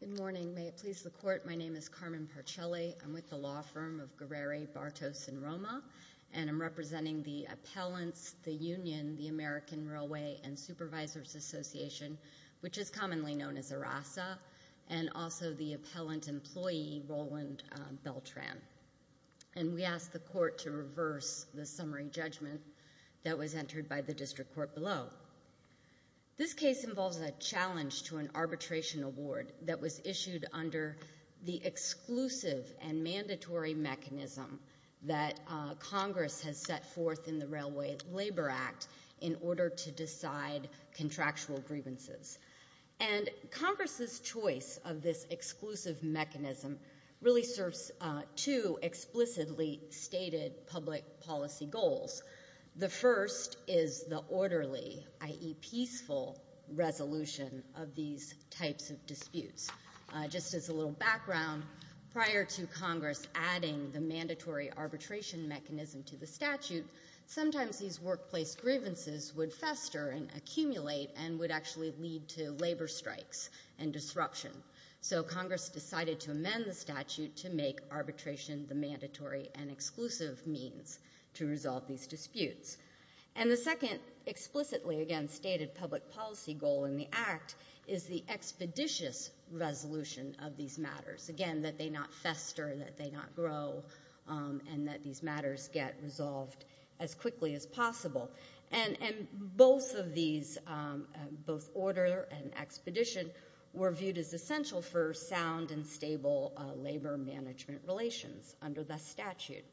Good morning, may it please the court, my name is Carmen Parcelli, I'm with the law firm of Guerrere, Bartos & Roma and I'm representing the appellants, the union, the American Railway and Supervisors Association, which is commonly known as ARASA, and also the appellant employee, Roland Beltran. And we ask the court to reverse the summary judgment that was entered by the district court below. This case involves a challenge to an arbitration award that was issued under the exclusive and mandatory mechanism that Congress has set forth in the Railway Labor Act in order to decide contractual grievances. And Congress's choice of this exclusive mechanism really serves two explicitly stated public policy goals. The first is the orderly, i.e. peaceful resolution of these types of disputes. Just as a little background, prior to Congress adding the mandatory arbitration mechanism to the statute, sometimes these workplace grievances would fester and accumulate and would actually lead to labor strikes and disruption. So Congress decided to amend the statute to make arbitration the mandatory and exclusive means to resolve these disputes. And the second explicitly, again, stated public policy goal in the act is the expeditious resolution of these matters. Again, that they not fester, that they not grow, and that these matters get resolved as quickly as possible. And both of these, both order and expedition, were viewed as essential for sound and stable labor management relations under the statute.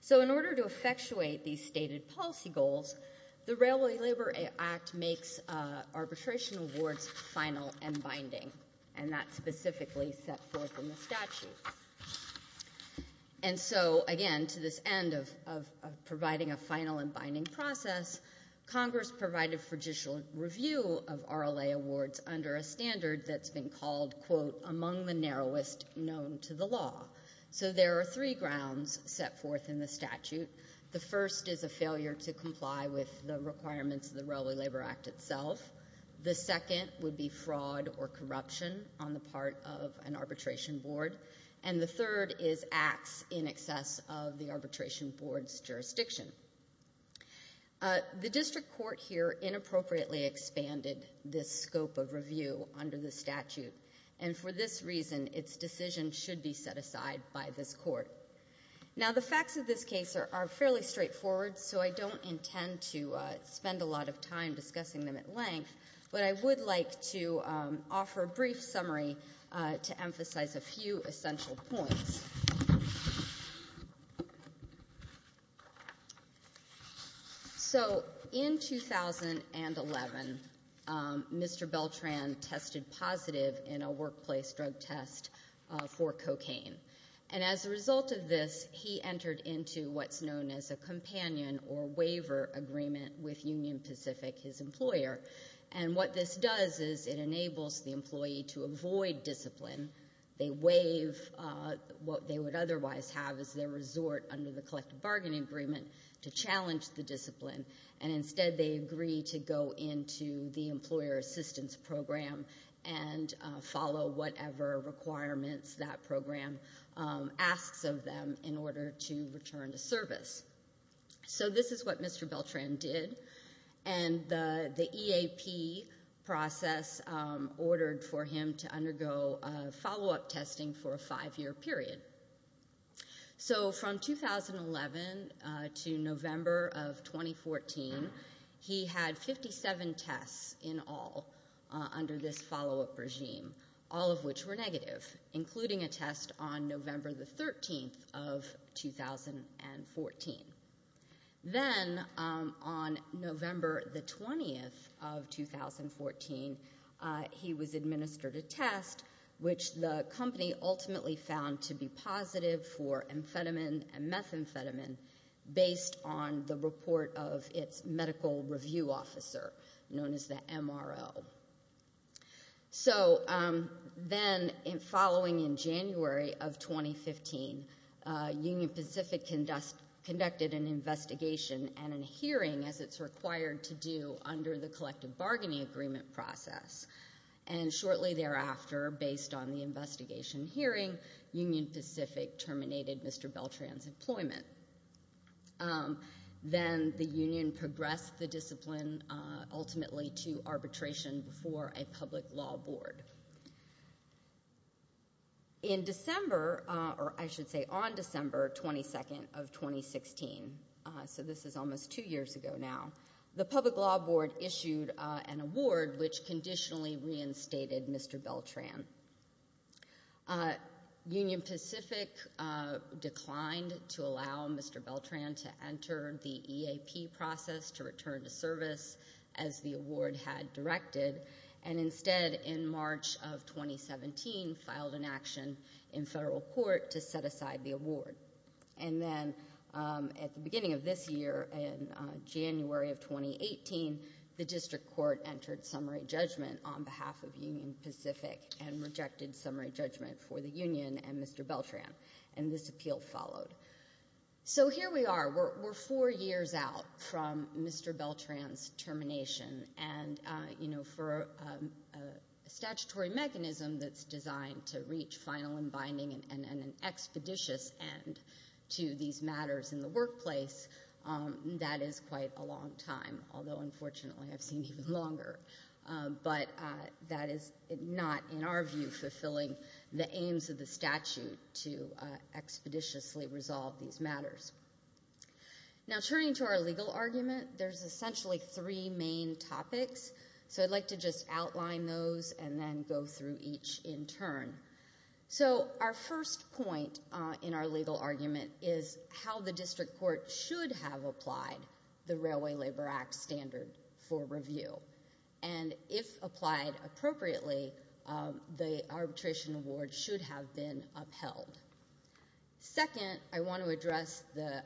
So in order to effectuate these stated policy goals, the Railway Labor Act makes arbitration awards final and binding. And that's specifically set forth in the statute. And so, again, to this end of providing a final and binding process, Congress provided for judicial review of RLA awards under a standard that's been called, quote, among the narrowest known to the law. So there are three grounds set forth in the statute. The first is a failure to comply with the requirements of the Railway Labor Act itself. The second would be fraud or corruption on the part of an arbitration board. And the third is acts in excess of the arbitration board's jurisdiction. The district court here inappropriately expanded this scope of review under the statute. And for this reason, its decision should be set aside by this court. Now, the facts of this case are fairly straightforward, so I don't intend to discuss them at length, but I would like to offer a brief summary to emphasize a few essential points. So in 2011, Mr. Beltran tested positive in a workplace drug test for cocaine. And as a result of this, he entered into what's known as a companion or waiver agreement with Union Pacific, his employer. And what this does is it enables the employee to avoid discipline. They waive what they would otherwise have as their resort under the collective bargaining agreement to challenge the discipline. And instead, they agree to go into the employer assistance program and follow whatever requirements that program asks of them in order to return to service. So this is what Mr. Beltran did. And the EAP process ordered for him to undergo a follow-up testing for a five-year period. So from 2011 to November of 2014, he had 57 tests in all under this follow-up regime, all of which were negative, including a test on November the 13th of 2014. Then on November the 20th of 2014, he was administered a test, which the company ultimately found to be positive for amphetamine and methamphetamine based on the report of its medical review officer known as the MRO. So then following in January of 2015, Union Pacific conducted an investigation and a hearing as it's required to do under the collective bargaining agreement process. And shortly thereafter, based on the investigation hearing, Union Pacific terminated Mr. Beltran's employment. Then the union progressed the discipline ultimately to arbitration before a public law board. In December, or I should say on December 22nd of 2016, so this is almost two years ago now, the public law board issued an award which conditionally reinstated Mr. Beltran. Union Pacific declined to allow Mr. Beltran to enter the EAP process to return to service as the award had directed and instead in March of 2017 filed an action in federal court to set the date for the termination of Mr. Beltran. And then in November of 2018, the district court entered summary judgment on behalf of Union Pacific and rejected summary judgment for the union and Mr. Beltran. And this appeal followed. So here we are, we're four years out from Mr. Beltran's termination. And you know for a statutory mechanism that's designed to reach final and binding and an expeditious end to these matters in the workplace, that is quite a long time. Although unfortunately I've seen even longer. But that is not in our view fulfilling the aims of the statute to expeditiously resolve these matters. Now turning to our legal argument, there's essentially three main topics. So I'd like to outline those and then go through each in turn. So our first point in our legal argument is how the district court should have applied the Railway Labor Act standard for review. And if applied appropriately, the arbitration award should have been upheld. Second, I want to address the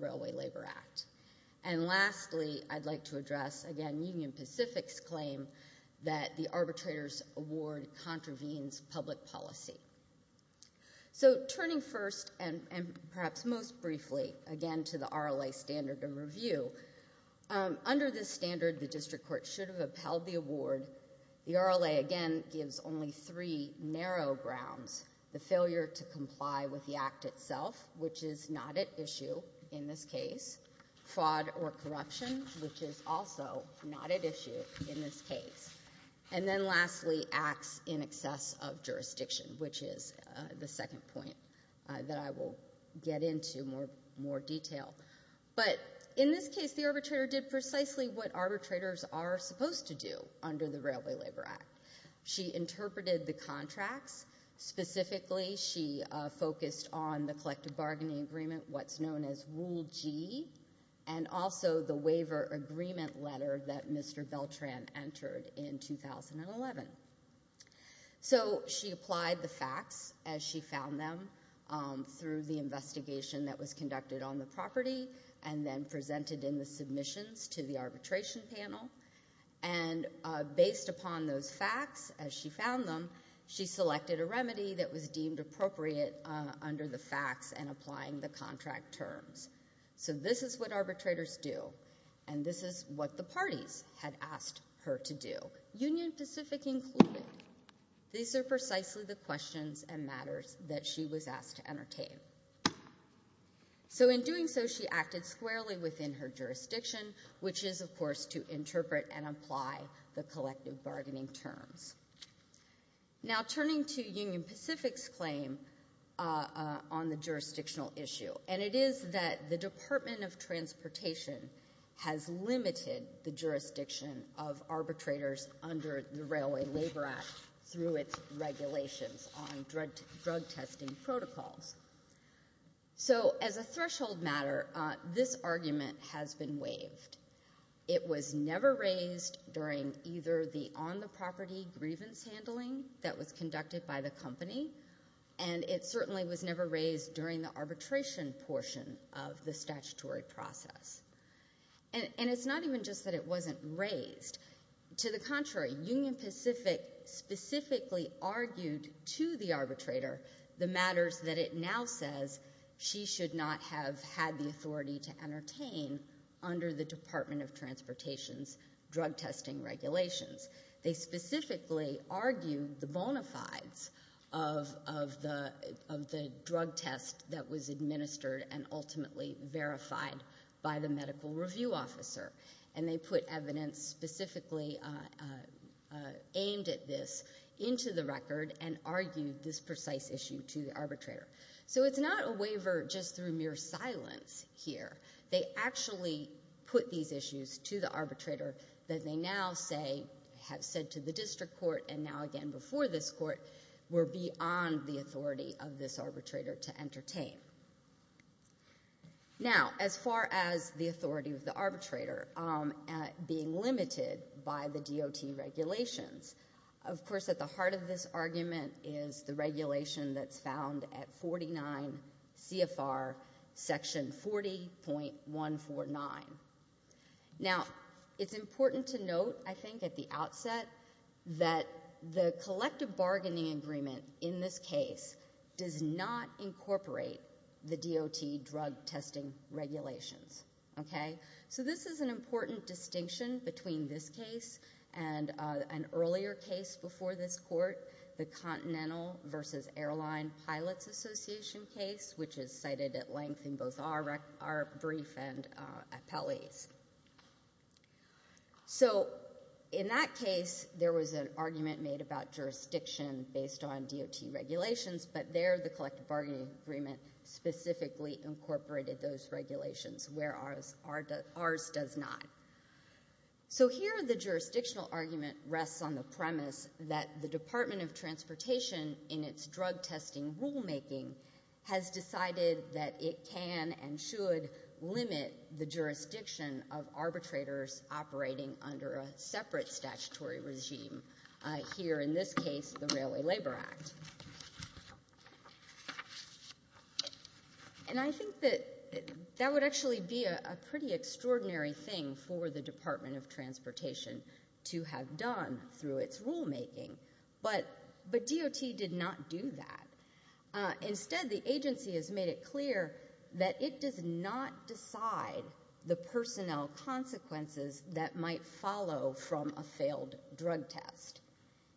Railway Labor Act. And lastly, I'd like to address again Union Pacific's claim that the arbitrator's award contravenes public policy. So turning first and perhaps most briefly again to the RLA standard of review, under this standard the district court should have upheld the award. The RLA again gives only three cases. Fraud or corruption, which is also not at issue in this case. And then lastly, acts in excess of jurisdiction, which is the second point that I will get into more detail. But in this case the arbitrator did precisely what arbitrators are supposed to do under the Railway Labor Act. She interpreted the contracts. Specifically she focused on the collective bargaining agreement, what's known as Rule G. And also the waiver agreement letter that Mr. Beltran entered in 2011. So she applied the facts as she found them through the investigation that was conducted on the property and then presented in the submissions to the arbitration panel. And based upon those facts as she found them, she selected a remedy that was deemed appropriate under the facts and applying the contract terms. So this is what arbitrators do and this is what the parties had asked her to do, Union Pacific included. These are precisely the questions and matters that she was asked to entertain. So in doing so she acted squarely within her jurisdiction, which is of course to Now turning to Union Pacific's claim on the jurisdictional issue, and it is that the Department of Transportation has limited the jurisdiction of arbitrators under the Railway Labor Act through its regulations on drug testing protocols. So as a threshold matter, this argument has been waived. It was never raised during either the on-the-property grievance handling that was conducted by the company, and it certainly was never raised during the arbitration portion of the statutory process. And it's not even just that it wasn't raised. To the contrary, Union Pacific specifically argued to the arbitrator the matters that it now says she should not have had the authority to entertain under the Department of Transportation's drug testing regulations. They specifically argued the bona fides of the drug test that was administered and ultimately verified by the medical review officer, and they put evidence specifically aimed at this into the record and argued this precise issue to the arbitrator. So it's not a waiver just through mere silence here. They actually put these issues to the arbitrator that they now have said to the district court and now again before this court were beyond the authority of this arbitrator to entertain. Now as far as the authority of the arbitrator being limited by the DOT regulations, of course at the heart of this argument is the regulation that's found at 49 CFR section 40.149. Now it's important to note, I think, at the outset that the collective bargaining agreement in this case does not incorporate the DOT drug testing regulations, okay? So this is an important distinction between this case and an earlier case before this court, the Continental versus Airline Pilots Association case, which is cited at length in both our brief and appellee's. So in that case, there was an argument made about jurisdiction based on DOT regulations, but there the collective bargaining agreement specifically incorporated those regulations, whereas ours does not. So here the jurisdictional argument rests on the premise that the Department of Transportation in its drug testing rulemaking has decided that it can and should limit the jurisdiction of arbitrators operating under a separate statutory regime, here in this case. Now that would actually be a pretty extraordinary thing for the Department of Transportation to have done through its rulemaking, but DOT did not do that. Instead the agency has made it clear that it does not decide the personnel consequences that might follow from a failed drug test.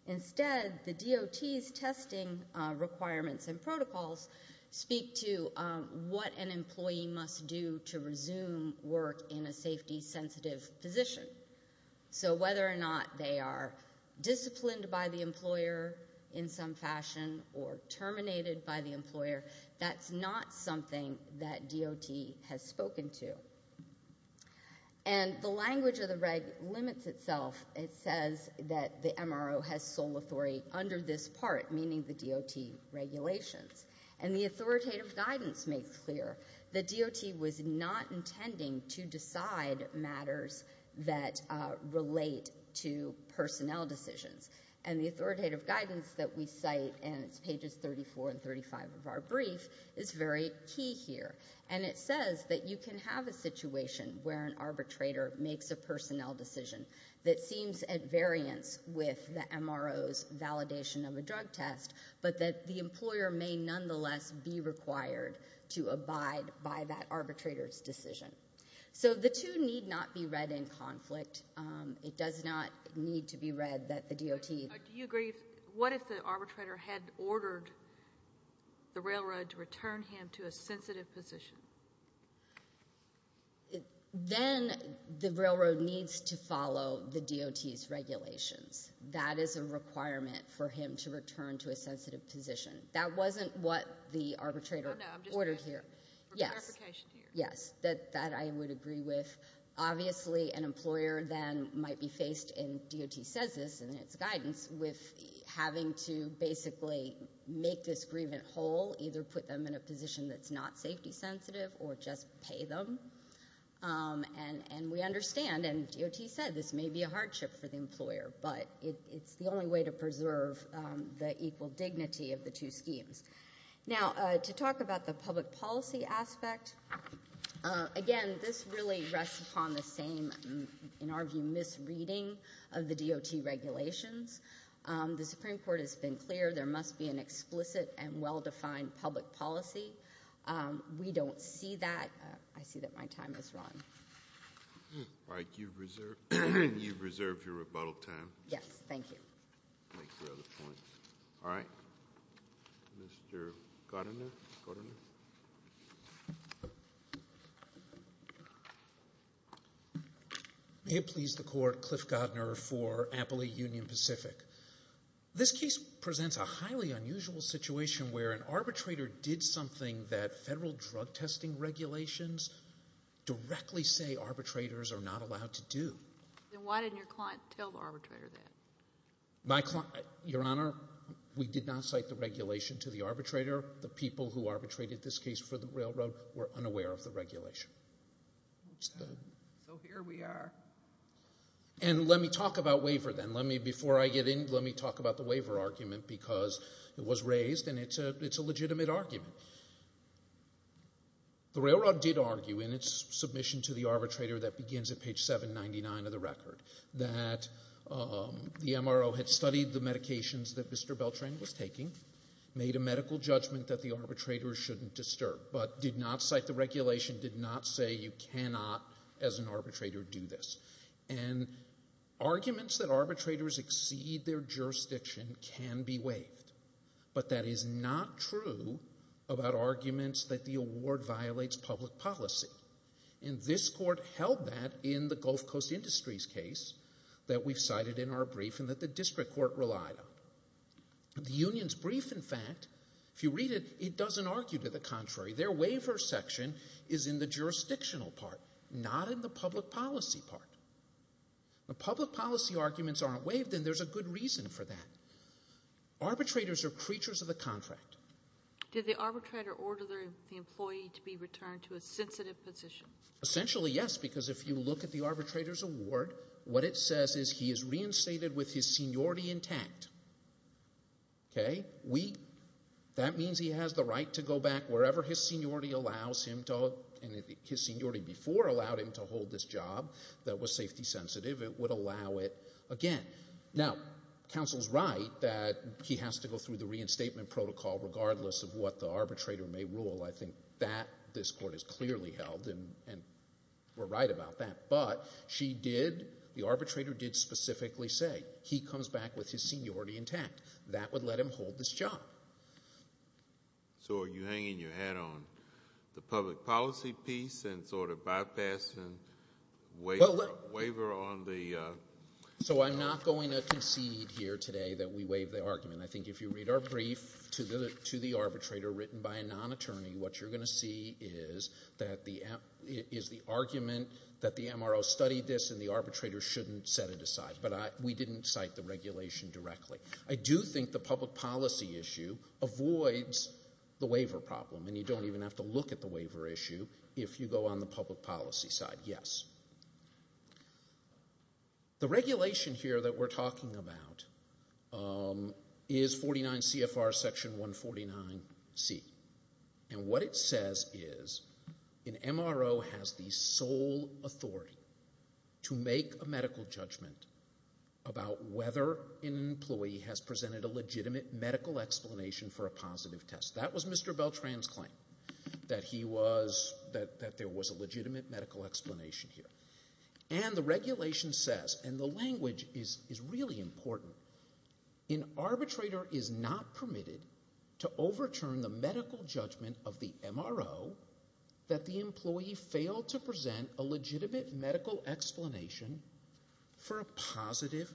Instead, the DOT's testing requirements and protocols speak to what an employee must do to resume work in a safety sensitive position. So whether or not they are disciplined by the employer in some fashion or terminated by the employer, that's not something that DOT has spoken to. And the language of the reg limits itself. It says that the MRO has sole authority under this not intending to decide matters that relate to personnel decisions. And the authoritative guidance that we cite, and it's pages 34 and 35 of our brief, is very key here. And it says that you can have a situation where an arbitrator makes a personnel decision that seems at variance with the MRO's validation of a drug test, but that the employer may nonetheless be required to abide by that arbitrator's decision. So the two need not be read in conflict. It does not need to be read that the DOT... Do you agree, what if the arbitrator had ordered the railroad to return him to a sensitive position? Then the railroad needs to follow the DOT's regulations. That is a requirement for him to return to a sensitive position. That wasn't what the arbitrator ordered here. Yes. That I would agree with. Obviously an employer then might be faced, and DOT says this in its guidance, with having to basically make this grievant whole, either put them in a position that's not safety sensitive or just pay them. And we understand, and DOT said this may be a the equal dignity of the two schemes. Now to talk about the public policy aspect, again, this really rests upon the same, in our view, misreading of the DOT regulations. The Supreme Court has been clear, there must be an explicit and well-defined public policy. We don't see that. I see that my time has run. All right. You've reserved your rebuttal time. Yes. Thank you. Thank you for the point. All right. Mr. Godner. May it please the Court, Cliff Godner for Ampley Union Pacific. This case presents a highly unusual situation where an arbitrator did something that federal drug testing regulations directly say arbitrators are not allowed to do. Then why didn't your client tell the arbitrator that? Your Honor, we did not cite the regulation to the arbitrator. The people who arbitrated this case for the railroad were unaware of the regulation. So here we are. And let me talk about waiver then. Before I get in, let me talk about the waiver argument because it was raised and it's a legitimate argument. The railroad did argue in its submission to the arbitrator that begins at page 799 of the record that the MRO had studied the medications that Mr. Beltran was taking, made a medical judgment that the arbitrator shouldn't disturb, but did not cite the regulation, did not say you cannot as an arbitrator do this. And arguments that arbitrators exceed their jurisdiction can be waived. But that is not true about arguments that the award violates public policy. And this Court held that in the Gulf Coast Industries case that we've cited in our brief and that the District Court relied on. The Union's brief, in fact, if you read it, it doesn't argue to the contrary. Their waiver section is in the jurisdictional part, not in the public policy part. The public policy arguments aren't waived and there's a good reason for that. Arbitrators are creatures of the contract. Did the arbitrator order the employee to be returned to a sensitive position? Essentially, yes, because if you look at the arbitrator's award, what it says is he is reinstated with his seniority intact. That means he has the right to go back wherever his seniority allows him to, and his seniority before allowed him to hold this job that was safety sensitive. It would allow it again. Now, counsel's right that he has to go through the reinstatement protocol regardless of what the arbitrator may rule. I think that this Court has clearly held and we're right about that. But she did, the arbitrator did specifically say he comes back with his seniority intact. That would let him hold this job. So are you hanging your hat on the public policy piece and sort of bypassing waiver on the- So I'm not going to concede here today that we waive the argument. I think if you read our brief to the arbitrator written by a non-attorney, what you're going to see is that the, is the argument that the MRO studied this and the arbitrator shouldn't set it aside. But we didn't cite the issue, avoids the waiver problem. And you don't even have to look at the waiver issue if you go on the public policy side. Yes. The regulation here that we're talking about is 49 CFR section 149C. And what it says is an MRO has the sole authority to make a medical judgment about whether an employee has presented a legitimate medical explanation for a positive test. That was Mr. Beltran's claim, that he was, that there was a legitimate medical explanation here. And the regulation says, and the language is really important, an arbitrator is not permitted to overturn the medical judgment of the MRO that the employee failed to present a legitimate medical explanation for a positive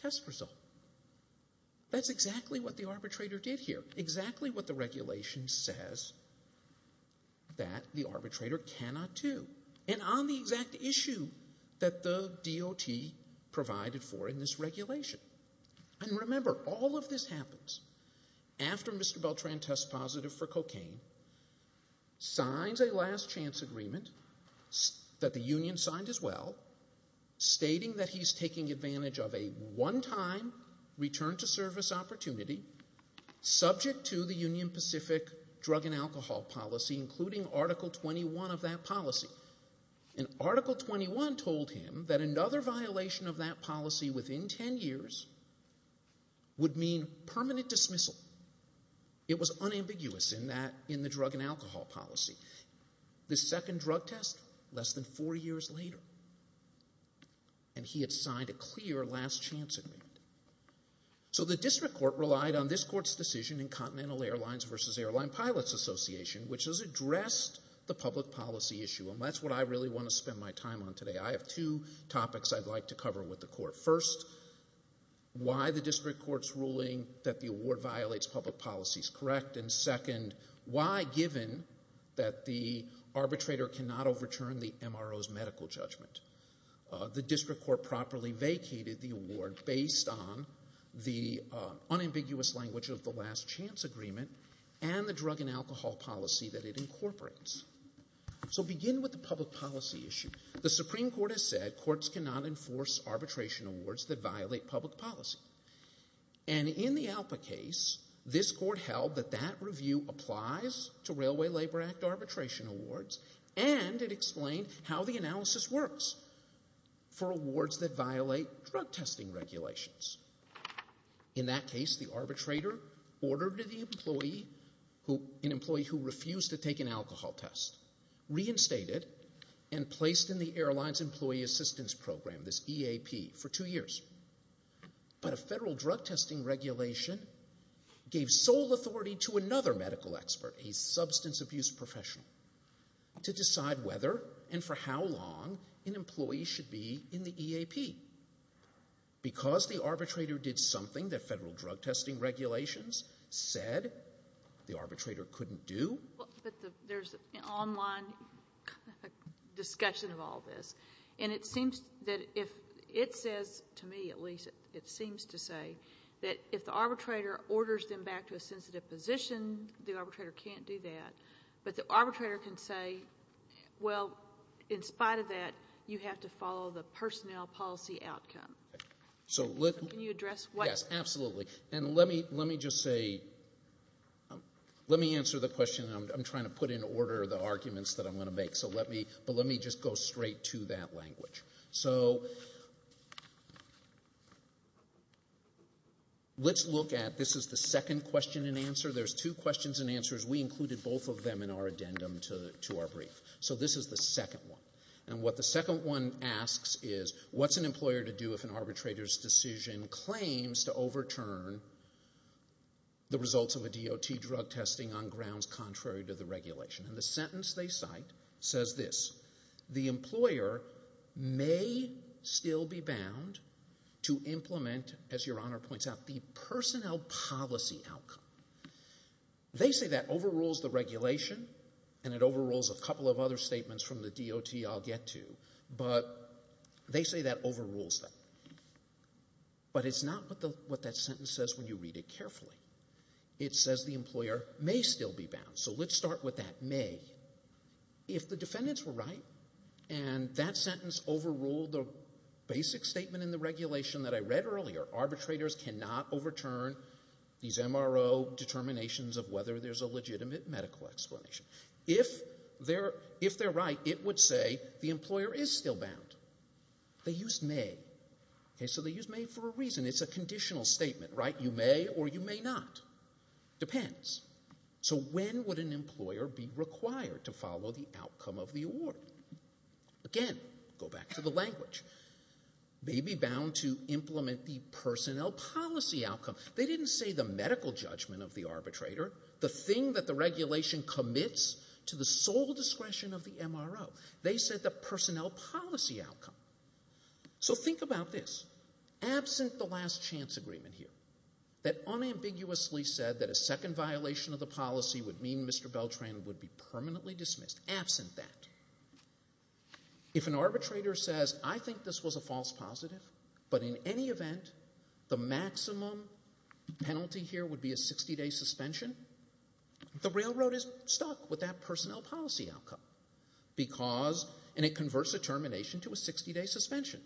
test result. That's exactly what the arbitrator did here. Exactly what the regulation says that the arbitrator cannot do. And on the exact issue that the DOT provided for in this regulation. And remember, all of this happens after Mr. Beltran signed his will stating that he's taking advantage of a one-time return to service opportunity subject to the Union Pacific drug and alcohol policy, including Article 21 of that policy. And Article 21 told him that another violation of that policy within 10 years would mean permanent dismissal. It was unambiguous in that, in the drug and alcohol policy. The second drug test, less than four years later. And he had signed a clear last chance amendment. So the district court relied on this court's decision in Continental Airlines vs. Airline Pilots Association, which has addressed the public policy issue. And that's what I really want to spend my time on today. I have two topics I'd like to cover with the court. First, why the district court's ruling that the award violates public policy is correct. And second, why, given that the arbitrator cannot overturn the MRO's medical judgment, the district court properly vacated the award based on the unambiguous language of the last chance agreement and the drug and alcohol policy that it incorporates. So begin with the public policy issue. The Supreme Court has said courts cannot enforce arbitration awards that violate public policy. And in the ALPA case, this court held that that review applies to Railway Labor Act arbitration awards and it explained how the analysis works for awards that violate drug testing regulations. In that case, the arbitrator ordered an employee who refused to take an alcohol test reinstated and placed in the airline's employee assistance program, this EAP, for two years. But a federal drug testing regulation gave sole authority to another medical expert, a substance abuse professional, to decide whether and for how long an employee should be in the EAP. Because the arbitrator did something that federal drug testing regulations said the arbitrator couldn't do. But there's an online discussion of all this. And it seems that if it says, to me at least, it seems to say that if the arbitrator orders them back to a sensitive position, the arbitrator can't do that. But the arbitrator can say, well, in spite of that, you have to follow the personnel policy outcome. Can you address what? Yes, absolutely. And let me just say, let me answer the question. I'm trying to put in order the arguments that I'm going to make. But let me just go straight to that language. So let's look at, this is the second question and answer. There's two questions and answers. We included both of them in our addendum to our brief. So this is the second one. And what the second one asks is, what's an employer to do if an arbitrator's decision claims to overturn the results of a DOT drug testing on grounds contrary to the regulation? And the sentence they cite says this, the employer may still be bound to implement, as Your Honor points out, the personnel policy outcome. They say that overrules the regulation and it overrules a couple of other statements from the DOT I'll get to. But they say that overrules them. But it's not what that sentence says when you read it carefully. It says the employer may still be bound. So let's start with that, may. If the defendants were right and that sentence overruled the basic statement in the regulation that I read earlier, arbitrators cannot overturn these MRO determinations of whether there's a legitimate medical explanation. If they're right, it would say the employer is still bound. They used may. So they used may for a reason. It's a conditional statement. You may or you may not. Depends. So when would an employer be required to follow the outcome of the award? Again, go back to the language. May be bound to implement the personnel policy outcome. They didn't say the medical judgment of the arbitrator. The thing that the regulation commits to the sole discretion of the MRO. They said the personnel policy outcome. So think about this. Absent the last chance agreement here, that unambiguously said that a second violation of the policy would mean Mr. Beltran would be permanently dismissed, absent that, if an arbitrator says I think this was a false positive, but in any event, the maximum penalty here would be a 60-day suspension, the railroad is stuck with that and it converts a termination to a 60-day suspension.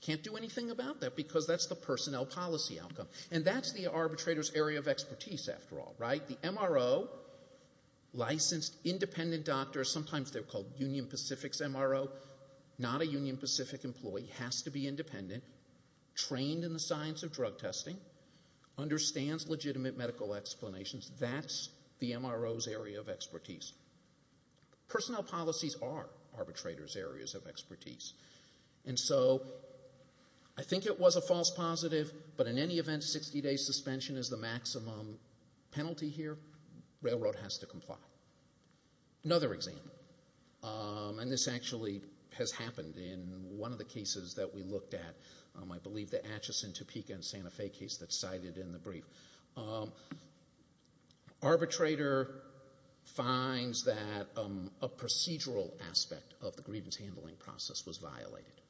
Can't do anything about that because that's the personnel policy outcome. And that's the arbitrator's area of expertise, after all. The MRO licensed independent doctor, sometimes they're called Union Pacific's MRO, not a Union Pacific employee, has to be independent, trained in the science of drug testing, understands legitimate medical explanations. That's the MRO's area of expertise. Personnel policies are arbitrators' areas of expertise. And so I think it was a false positive, but in any event, 60-day suspension is the maximum penalty here. Railroad has to comply. Another example. And this actually has happened in one of the cases that we looked at. I believe the Atchison, Topeka and Santa Fe case that's cited in the brief. Arbitrator finds that a procedural aspect of the grievance handling process was violated.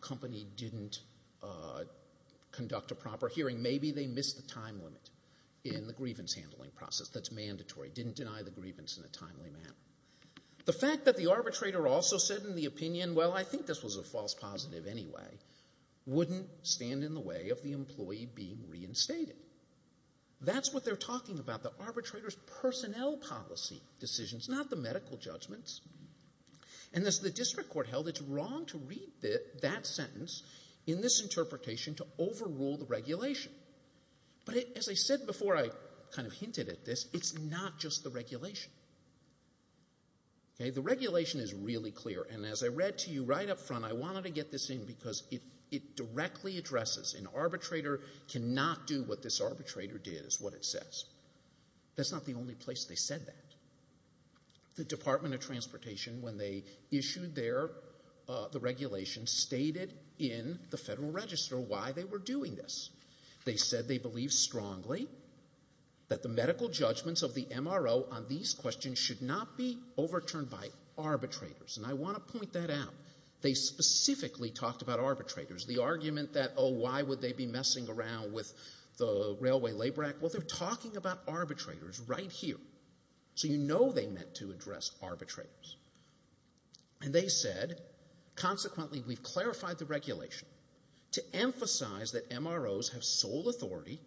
Company didn't conduct a proper hearing. Maybe they missed the time limit in the grievance handling process. That's mandatory. Didn't deny the grievance in a timely manner. The fact that the arbitrator also said in the opinion, well, I think this was a false positive anyway, wouldn't stand in the way of the employee being reinstated. That's what they're talking about. The arbitrator's personnel policy decisions, not the medical judgments. And as the district court held, it's wrong to read that sentence in this interpretation to overrule the regulation. But as I said before, I kind of hinted at this, it's not just the regulation. The regulation is really clear. And as I read to you right up front, I wanted to get this in because it directly addresses an arbitrator cannot do what this arbitrator did is what it says. That's not the only place they said that. The Department of Transportation, when they issued the regulation, stated in the Federal Register why they were doing this. They said they believe strongly that the medical judgments of the MRO on these questions should not be overturned by arbitrators. And I want to point that out. They specifically talked about arbitrators. The argument that, oh, why would they be messing around with the Railway Labor Act? Well, they're talking about arbitrators right here. So you know they meant to address arbitrators. And they said, consequently, we've clarified the regulation to emphasize that MROs have sole authority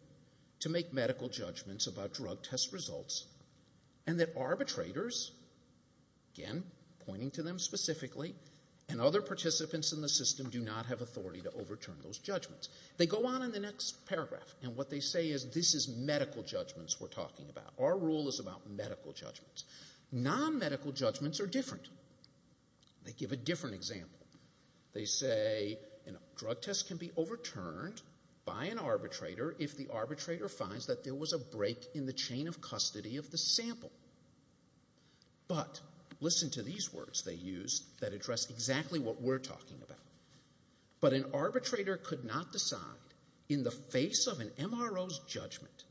to make medical judgments about drug test results, and that arbitrators, again, pointing to them specifically, and other participants in the system do not have authority to overturn those judgments. They go on in the next paragraph, and what they say is this is medical judgments we're talking about. Our rule is about medical judgments. Non-medical judgments are different. They give a different example. They say a drug test can be overturned by an arbitrator if the arbitrator finds that there was a break in the chain of custody of the sample. But listen to these words they used that address exactly what we're talking about. But an arbitrator could not decide in the face of an MRO's judgment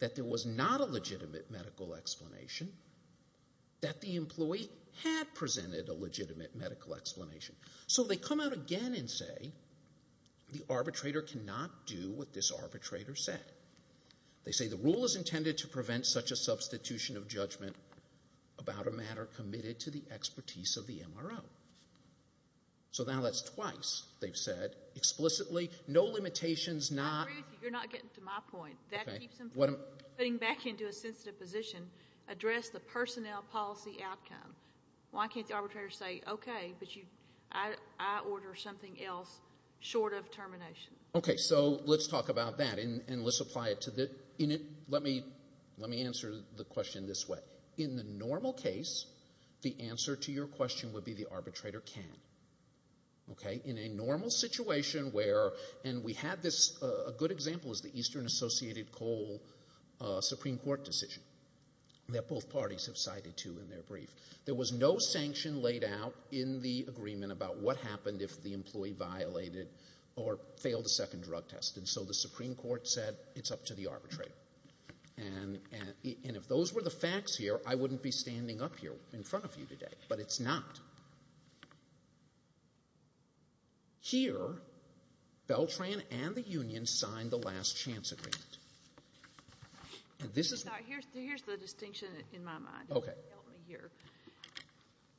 that there was not a legitimate medical explanation, that the employee had presented a legitimate medical explanation. So they come out again and say the arbitrator cannot do what this arbitrator said. They say the rule is intended to prevent such a substitution of judgment about a matter committed to the expertise of the MRO. So now that's twice they've said explicitly, no limitations, not... address the personnel policy outcome. Why can't the arbitrator say okay, but I order something else short of termination? Okay, so let's talk about that, and let's apply it to the... let me answer the question this way. In the normal case, the answer to your question would be the arbitrator can. Okay, in a normal situation where, and we had this, a good example is the that both parties have cited to in their brief. There was no sanction laid out in the agreement about what happened if the employee violated or failed a second drug test, and so the Supreme Court said it's up to the arbitrator. And if those were the facts here, I wouldn't be standing up here in front of you today, but it's not. Here, Beltran and the union signed the last chance agreement. Here's the distinction in my mind. Okay.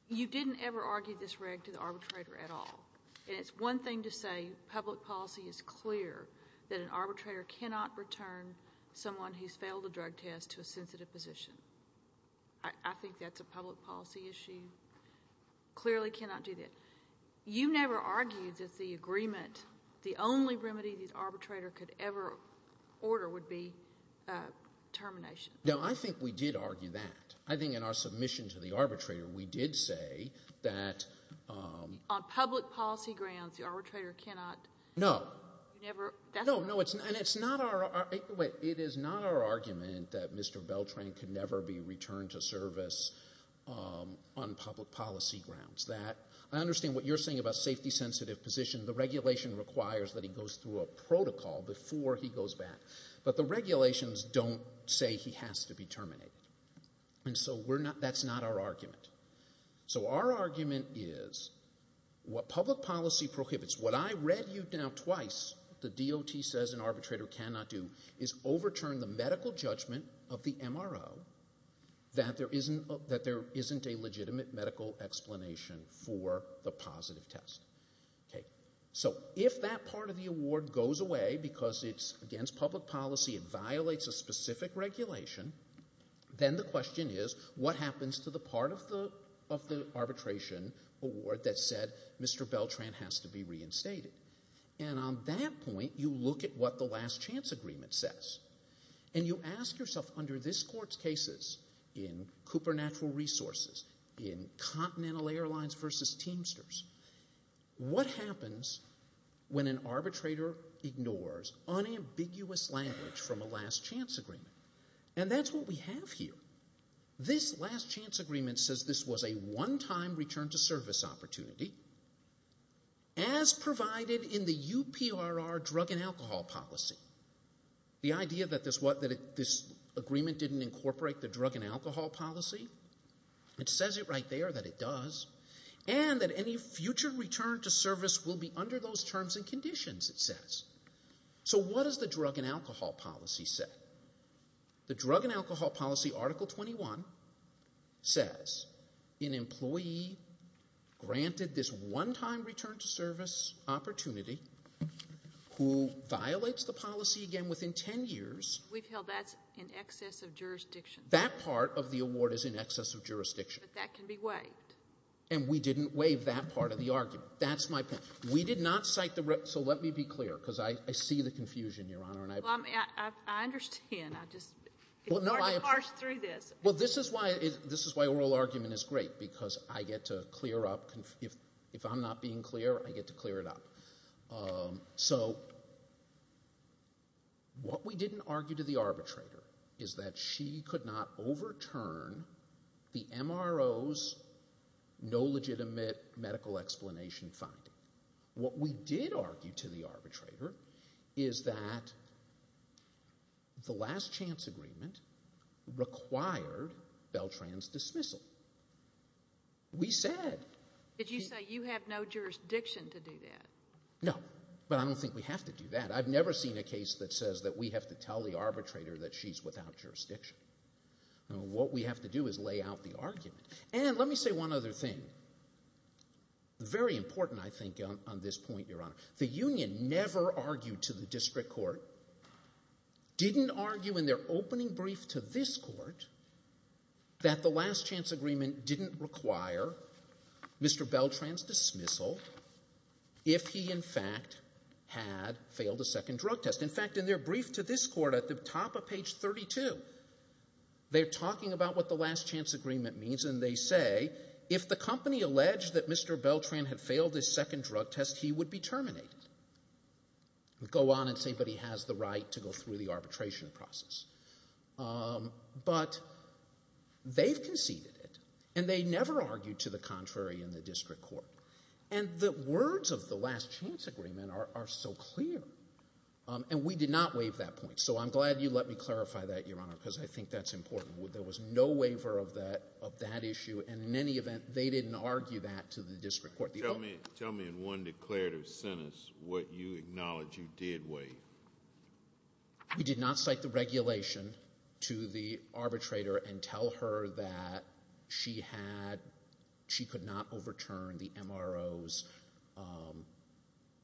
You didn't ever argue this reg to the arbitrator at all. And it's one thing to say public policy is clear that an arbitrator cannot return someone who's failed a drug test to a sensitive position. I think that's a public policy issue. Clearly cannot do that. You never argued that the agreement, the only remedy the arbitrator could ever order would be termination. No, I think we did argue that. I think in our submission to the arbitrator, we did say that. On public policy grounds, the arbitrator cannot. No. Never. No, no. And it's not our, wait, it is not our argument that Mr. Beltran could never be returned to service on public policy grounds. That, I understand what you're saying about before he goes back. But the regulations don't say he has to be terminated. And so we're not, that's not our argument. So our argument is what public policy prohibits, what I read you down twice, the DOT says an arbitrator cannot do, is overturn the medical judgment of the MRO that there isn't a legitimate medical explanation for the positive test. Okay. So if that part of because it's against public policy, it violates a specific regulation, then the question is, what happens to the part of the arbitration award that said Mr. Beltran has to be reinstated? And on that point, you look at what the last chance agreement says. And you ask yourself, under this Court's cases, in Cooper Natural Resources, in Continental Airlines versus Teamsters, what happens when an arbitrator ignores unambiguous language from a last chance agreement? And that's what we have here. This last chance agreement says this was a one-time return to service opportunity, as provided in the UPRR drug and alcohol policy. The idea that this agreement didn't incorporate the drug and alcohol policy, it says it right there that it does, and that any future return to service will be under those terms and conditions, it says. So what does the drug and alcohol policy say? The drug and alcohol policy, Article 21, says an employee granted this one-time return to service opportunity, who violates the policy again within ten years. We've held that in excess of jurisdiction. That part of the award is in and we didn't waive that part of the argument. That's my point. We did not cite the—so let me be clear, because I see the confusion, Your Honor. Well, I mean, I understand. I just—it's already harsh through this. Well, this is why oral argument is great, because I get to clear up—if I'm not being clear, I get to clear it up. So what we didn't argue to the arbitrator is that she could not overturn the MRO's no legitimate medical explanation finding. What we did argue to the arbitrator is that the last chance agreement required Beltran's dismissal. We said— Did you say you have no jurisdiction to do that? No, but I don't think we have to do that. I've never seen a case that says that we have to tell the arbitrator that she's without jurisdiction. What we have to do is lay out the argument. And let me say one other thing. Very important, I think, on this point, Your Honor. The union never argued to the district court, didn't argue in their opening brief to this court, that the last chance agreement didn't require Mr. Beltran's dismissal if he, in fact, had failed a second drug test. In fact, in their brief to this court, at the top of page 32, they're talking about what the last chance agreement means, and they say, if the company alleged that Mr. Beltran had failed his second drug test, he would be terminated. Go on and say, but he has the right to go through the arbitration process. But they've conceded it, and they never argued to the contrary in the district court. And the words of the last chance agreement are so clear. And we did not waive that point. So I'm glad you let me clarify that, Your Honor, because I think that's important. There was no waiver of that issue, and in any event, they didn't argue that to the district court. Tell me in one declarative sentence what you acknowledge you did waive. We did not cite the regulation to the arbitrator and tell her that she had, she could not overturn the MRO's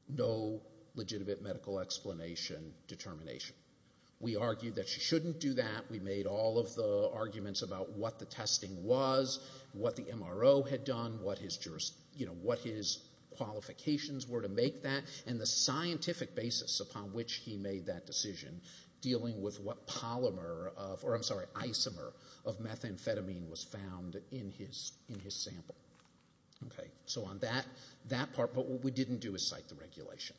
no legitimate medical explanation determination. We argued that she shouldn't do that. We made all of the arguments about what the testing was, what the MRO had done, what his qualifications were to make that, and the scientific basis upon which he made that decision dealing with what polymer, or I'm sorry, isomer of methamphetamine was found in his sample. Okay, so on that part, but what we didn't do is cite the regulation.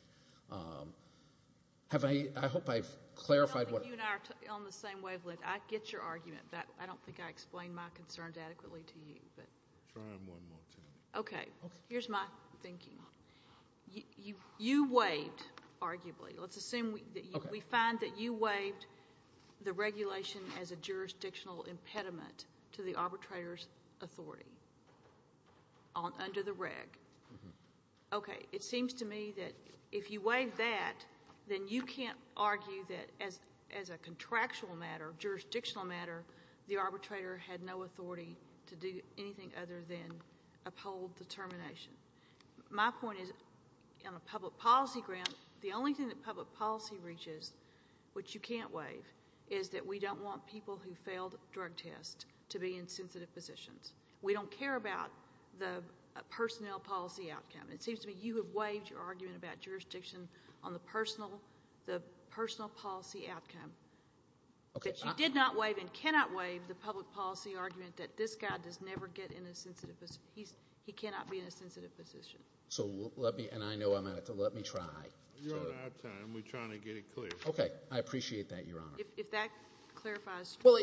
Have I, I hope I've clarified. You and I are on the same wavelength. I get your argument, but I don't think I explained my concerns adequately to you. Okay, here's my thinking. You waived arguably. Let's assume that we find that you waived the regulation as a jurisdictional impediment to the arbitrator's authority under the reg. Okay, it seems to me that if you waive that, then you can't argue that as a contractual matter, jurisdictional matter, the arbitrator had no authority to do anything other than uphold determination. My point is on a public policy ground, the only thing that public policy reaches, which you can't waive, is that we don't want people who failed drug tests to be in sensitive positions. We don't care about the personnel policy outcome. It seems to me you have waived your argument about jurisdiction on the personal policy outcome, but you did not waive and cannot waive the public policy argument that this guy does never get in a sensitive, he cannot be in Okay, I appreciate that, Your Honor. If that clarifies, well,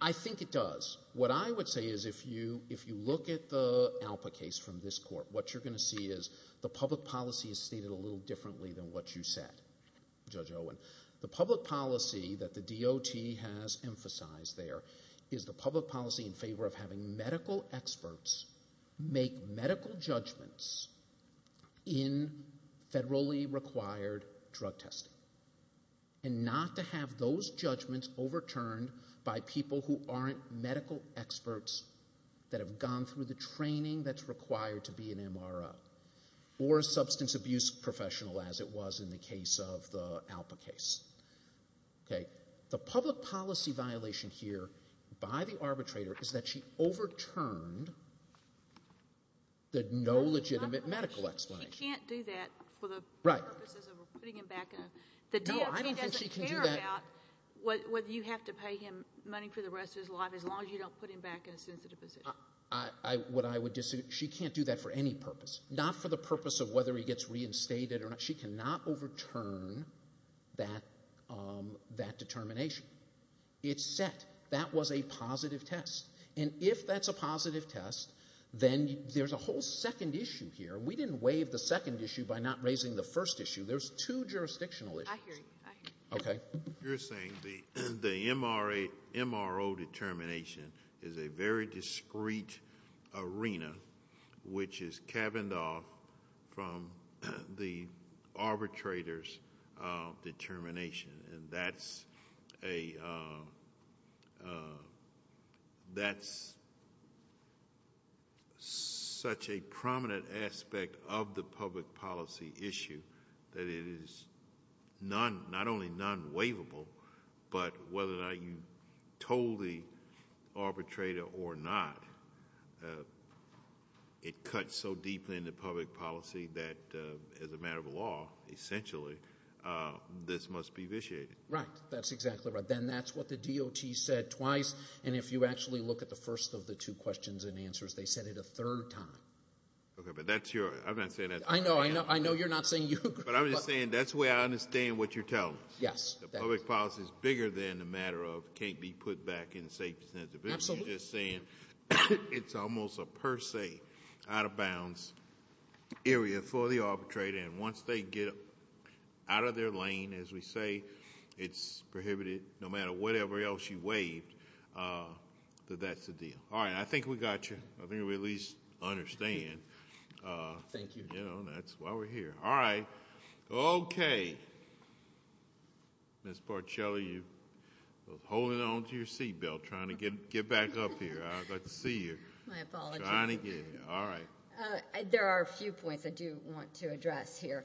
I think it does. What I would say is if you look at the ALPA case from this court, what you're going to see is the public policy is stated a little differently than what you said, Judge Owen. The public policy that the DOT has emphasized there is the public policy in favor of having medical experts make medical judgments in federally required drug testing, and not to have those judgments overturned by people who aren't medical experts that have gone through the training that's required to be an MRO or a substance abuse professional as it was in the case of the ALPA case. Okay, the public policy violation here by the arbitrator is that she overturned the no legitimate medical explanation. She can't do that for the purposes of putting him back in, the DOT doesn't care about whether you have to pay him money for the rest of his life as long as you don't put him back in a sensitive position. What I would disagree, she can't do that for any purpose, not for the purpose of whether he gets reinstated or not. She cannot overturn that determination. It's set. That was a positive test, and if that's a positive test, then there's a whole second issue here. We didn't waive the second issue by not raising the first issue. There's two jurisdictional issues. I hear you. Okay. You're saying the MRO determination is a discreet arena which is cabined off from the arbitrator's determination, and that's such a prominent aspect of the public policy issue that it is not only non-waivable, but whether or not you told the arbitrator or not, it cuts so deeply into public policy that as a matter of law, essentially, this must be vitiated. Right. That's exactly right. Then that's what the DOT said twice, and if you actually look at the first of the two questions and answers, they said it a third time. Okay, but that's your, I'm not saying that's... I know, I know you're not saying that public policy is bigger than a matter of can't be put back in the safety sense. Absolutely. You're just saying it's almost a per se out of bounds area for the arbitrator, and once they get out of their lane, as we say, it's prohibited no matter whatever else you waived. That's the deal. All right. I think we got you. I think we at least understand. Thank you. You know, that's why we're here. All right. Okay. Ms. Barcelli, you were holding on to your seat belt trying to get back up here. I'd like to see you. My apologies. All right. There are a few points I do want to address here.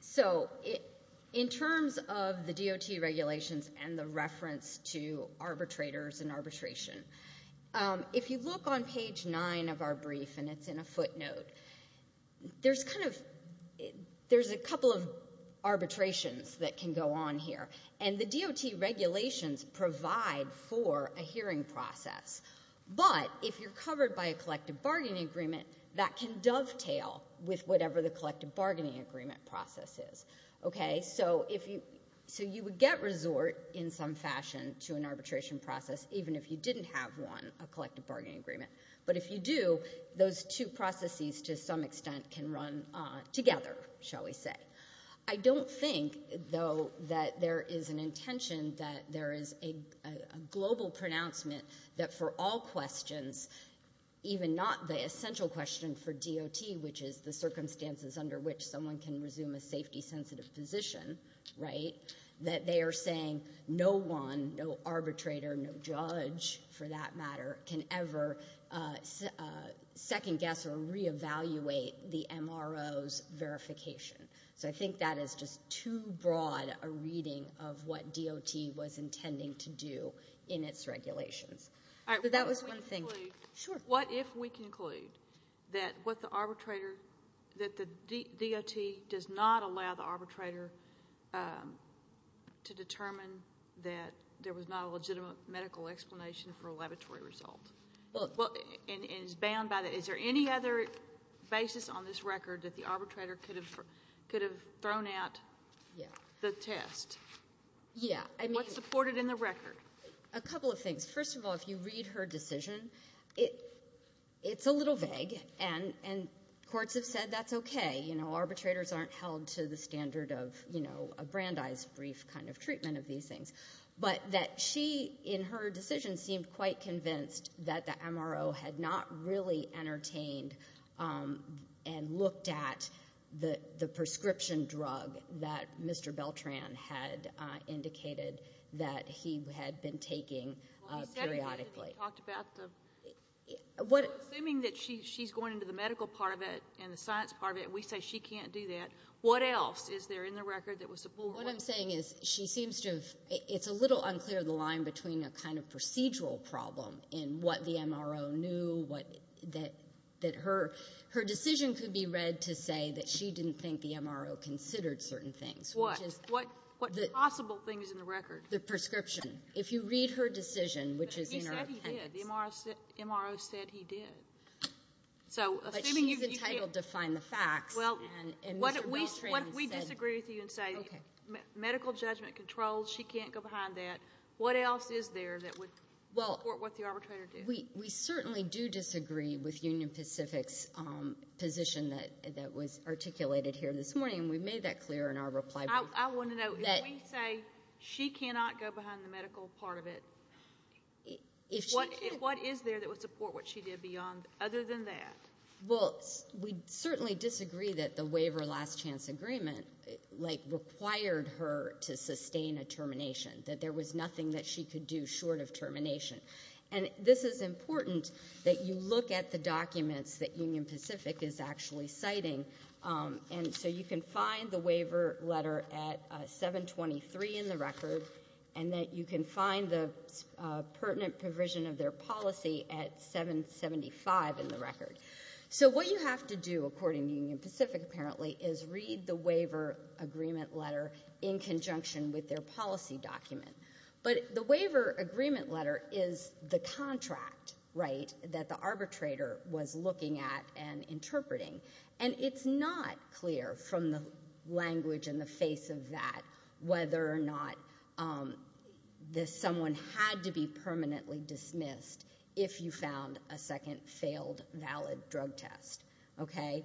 So, in terms of the DOT regulations and the reference to arbitrators and arbitration, if you look on arbitrations that can go on here, and the DOT regulations provide for a hearing process, but if you're covered by a collective bargaining agreement, that can dovetail with whatever the collective bargaining agreement process is. Okay? So, you would get resort in some fashion to an arbitration process even if you didn't have one, a collective bargaining agreement, but if you do, those two processes to some extent can run together, shall we say. I don't think, though, that there is an intention that there is a global pronouncement that for all questions, even not the essential question for DOT, which is the circumstances under which someone can resume a safety-sensitive position, right, that they are saying no one, no arbitrator, no judge, for that matter, can ever second-guess or re-evaluate the MRO's verification. So, I think that is just too broad a reading of what DOT was intending to do in its regulations. All right. What if we conclude that the DOT does not allow the arbitrator to determine that there was not a legitimate medical explanation for a laboratory result? Well, and is bound by the, is there any other basis on this record that the arbitrator could have thrown out the test? Yeah. What's supported in the record? A couple of things. First of all, if you read her decision, it's a little vague, and courts have said that's okay. You know, a Brandeis-brief kind of treatment of these things. But that she, in her decision, seemed quite convinced that the MRO had not really entertained and looked at the prescription drug that Mr. Beltran had indicated that he had been taking periodically. Well, he said he hadn't talked about the, we're assuming that she's going into the medical part of it and the science part of it, and we say she can't do that. What else is there in the record that was supported? What I'm saying is she seems to have, it's a little unclear the line between a kind of procedural problem in what the MRO knew, what, that her, her decision could be read to say that she didn't think the MRO considered certain things. What? What possible things in the record? The prescription. If you read her decision, which is in her attendance. But he said he did. The MRO said he did. But she's entitled to find the facts. Well, what if we disagree with you and say, medical judgment controls, she can't go behind that. What else is there that would support what the arbitrator did? We certainly do disagree with Union Pacific's position that was articulated here this morning, and we made that clear in our reply brief. I want to know, if we say she cannot go beyond the medical part of it, what is there that would support what she did beyond other than that? Well, we certainly disagree that the waiver last chance agreement, like, required her to sustain a termination, that there was nothing that she could do short of termination. And this is important that you look at the documents that Union Pacific is actually citing, and so you can the waiver letter at 723 in the record, and that you can find the pertinent provision of their policy at 775 in the record. So what you have to do, according to Union Pacific, apparently, is read the waiver agreement letter in conjunction with their policy document. But the waiver agreement letter is the contract, right, that the arbitrator was looking at and interpreting. And it's not clear from the language and the face of that whether or not someone had to be permanently dismissed if you found a second failed valid drug test, okay?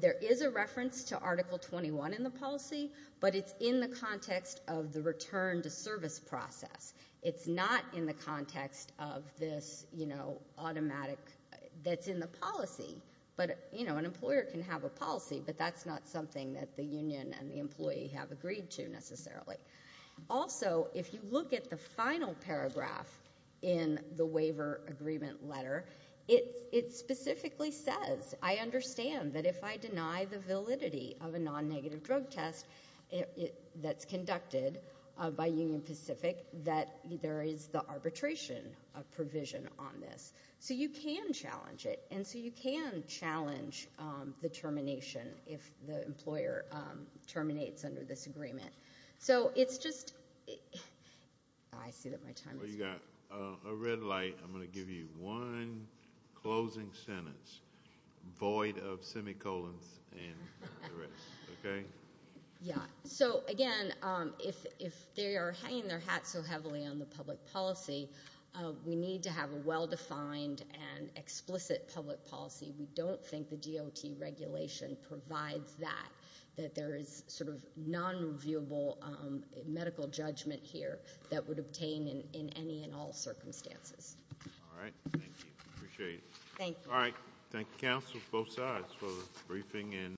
There is a reference to Article 21 in the policy, but it's in the context of the return to service process. It's not in the employer can have a policy, but that's not something that the union and the employee have agreed to, necessarily. Also, if you look at the final paragraph in the waiver agreement letter, it specifically says, I understand that if I deny the validity of a non-negative drug test that's conducted by Union Pacific, that there is the arbitration provision on this. So you can challenge the termination if the employer terminates under this agreement. So it's just, I see that my time is up. You got a red light. I'm going to give you one closing sentence, void of semicolons and the rest, okay? Yeah. So again, if they are hanging their hat so heavily on the public policy, we need to have a well-defined and explicit public policy. We don't think the DOT regulation provides that, that there is sort of non-reviewable medical judgment here that would obtain in any and all circumstances. All right. Thank you. Appreciate it. Thank you. All right. Thank you, counsel, both sides for the briefing and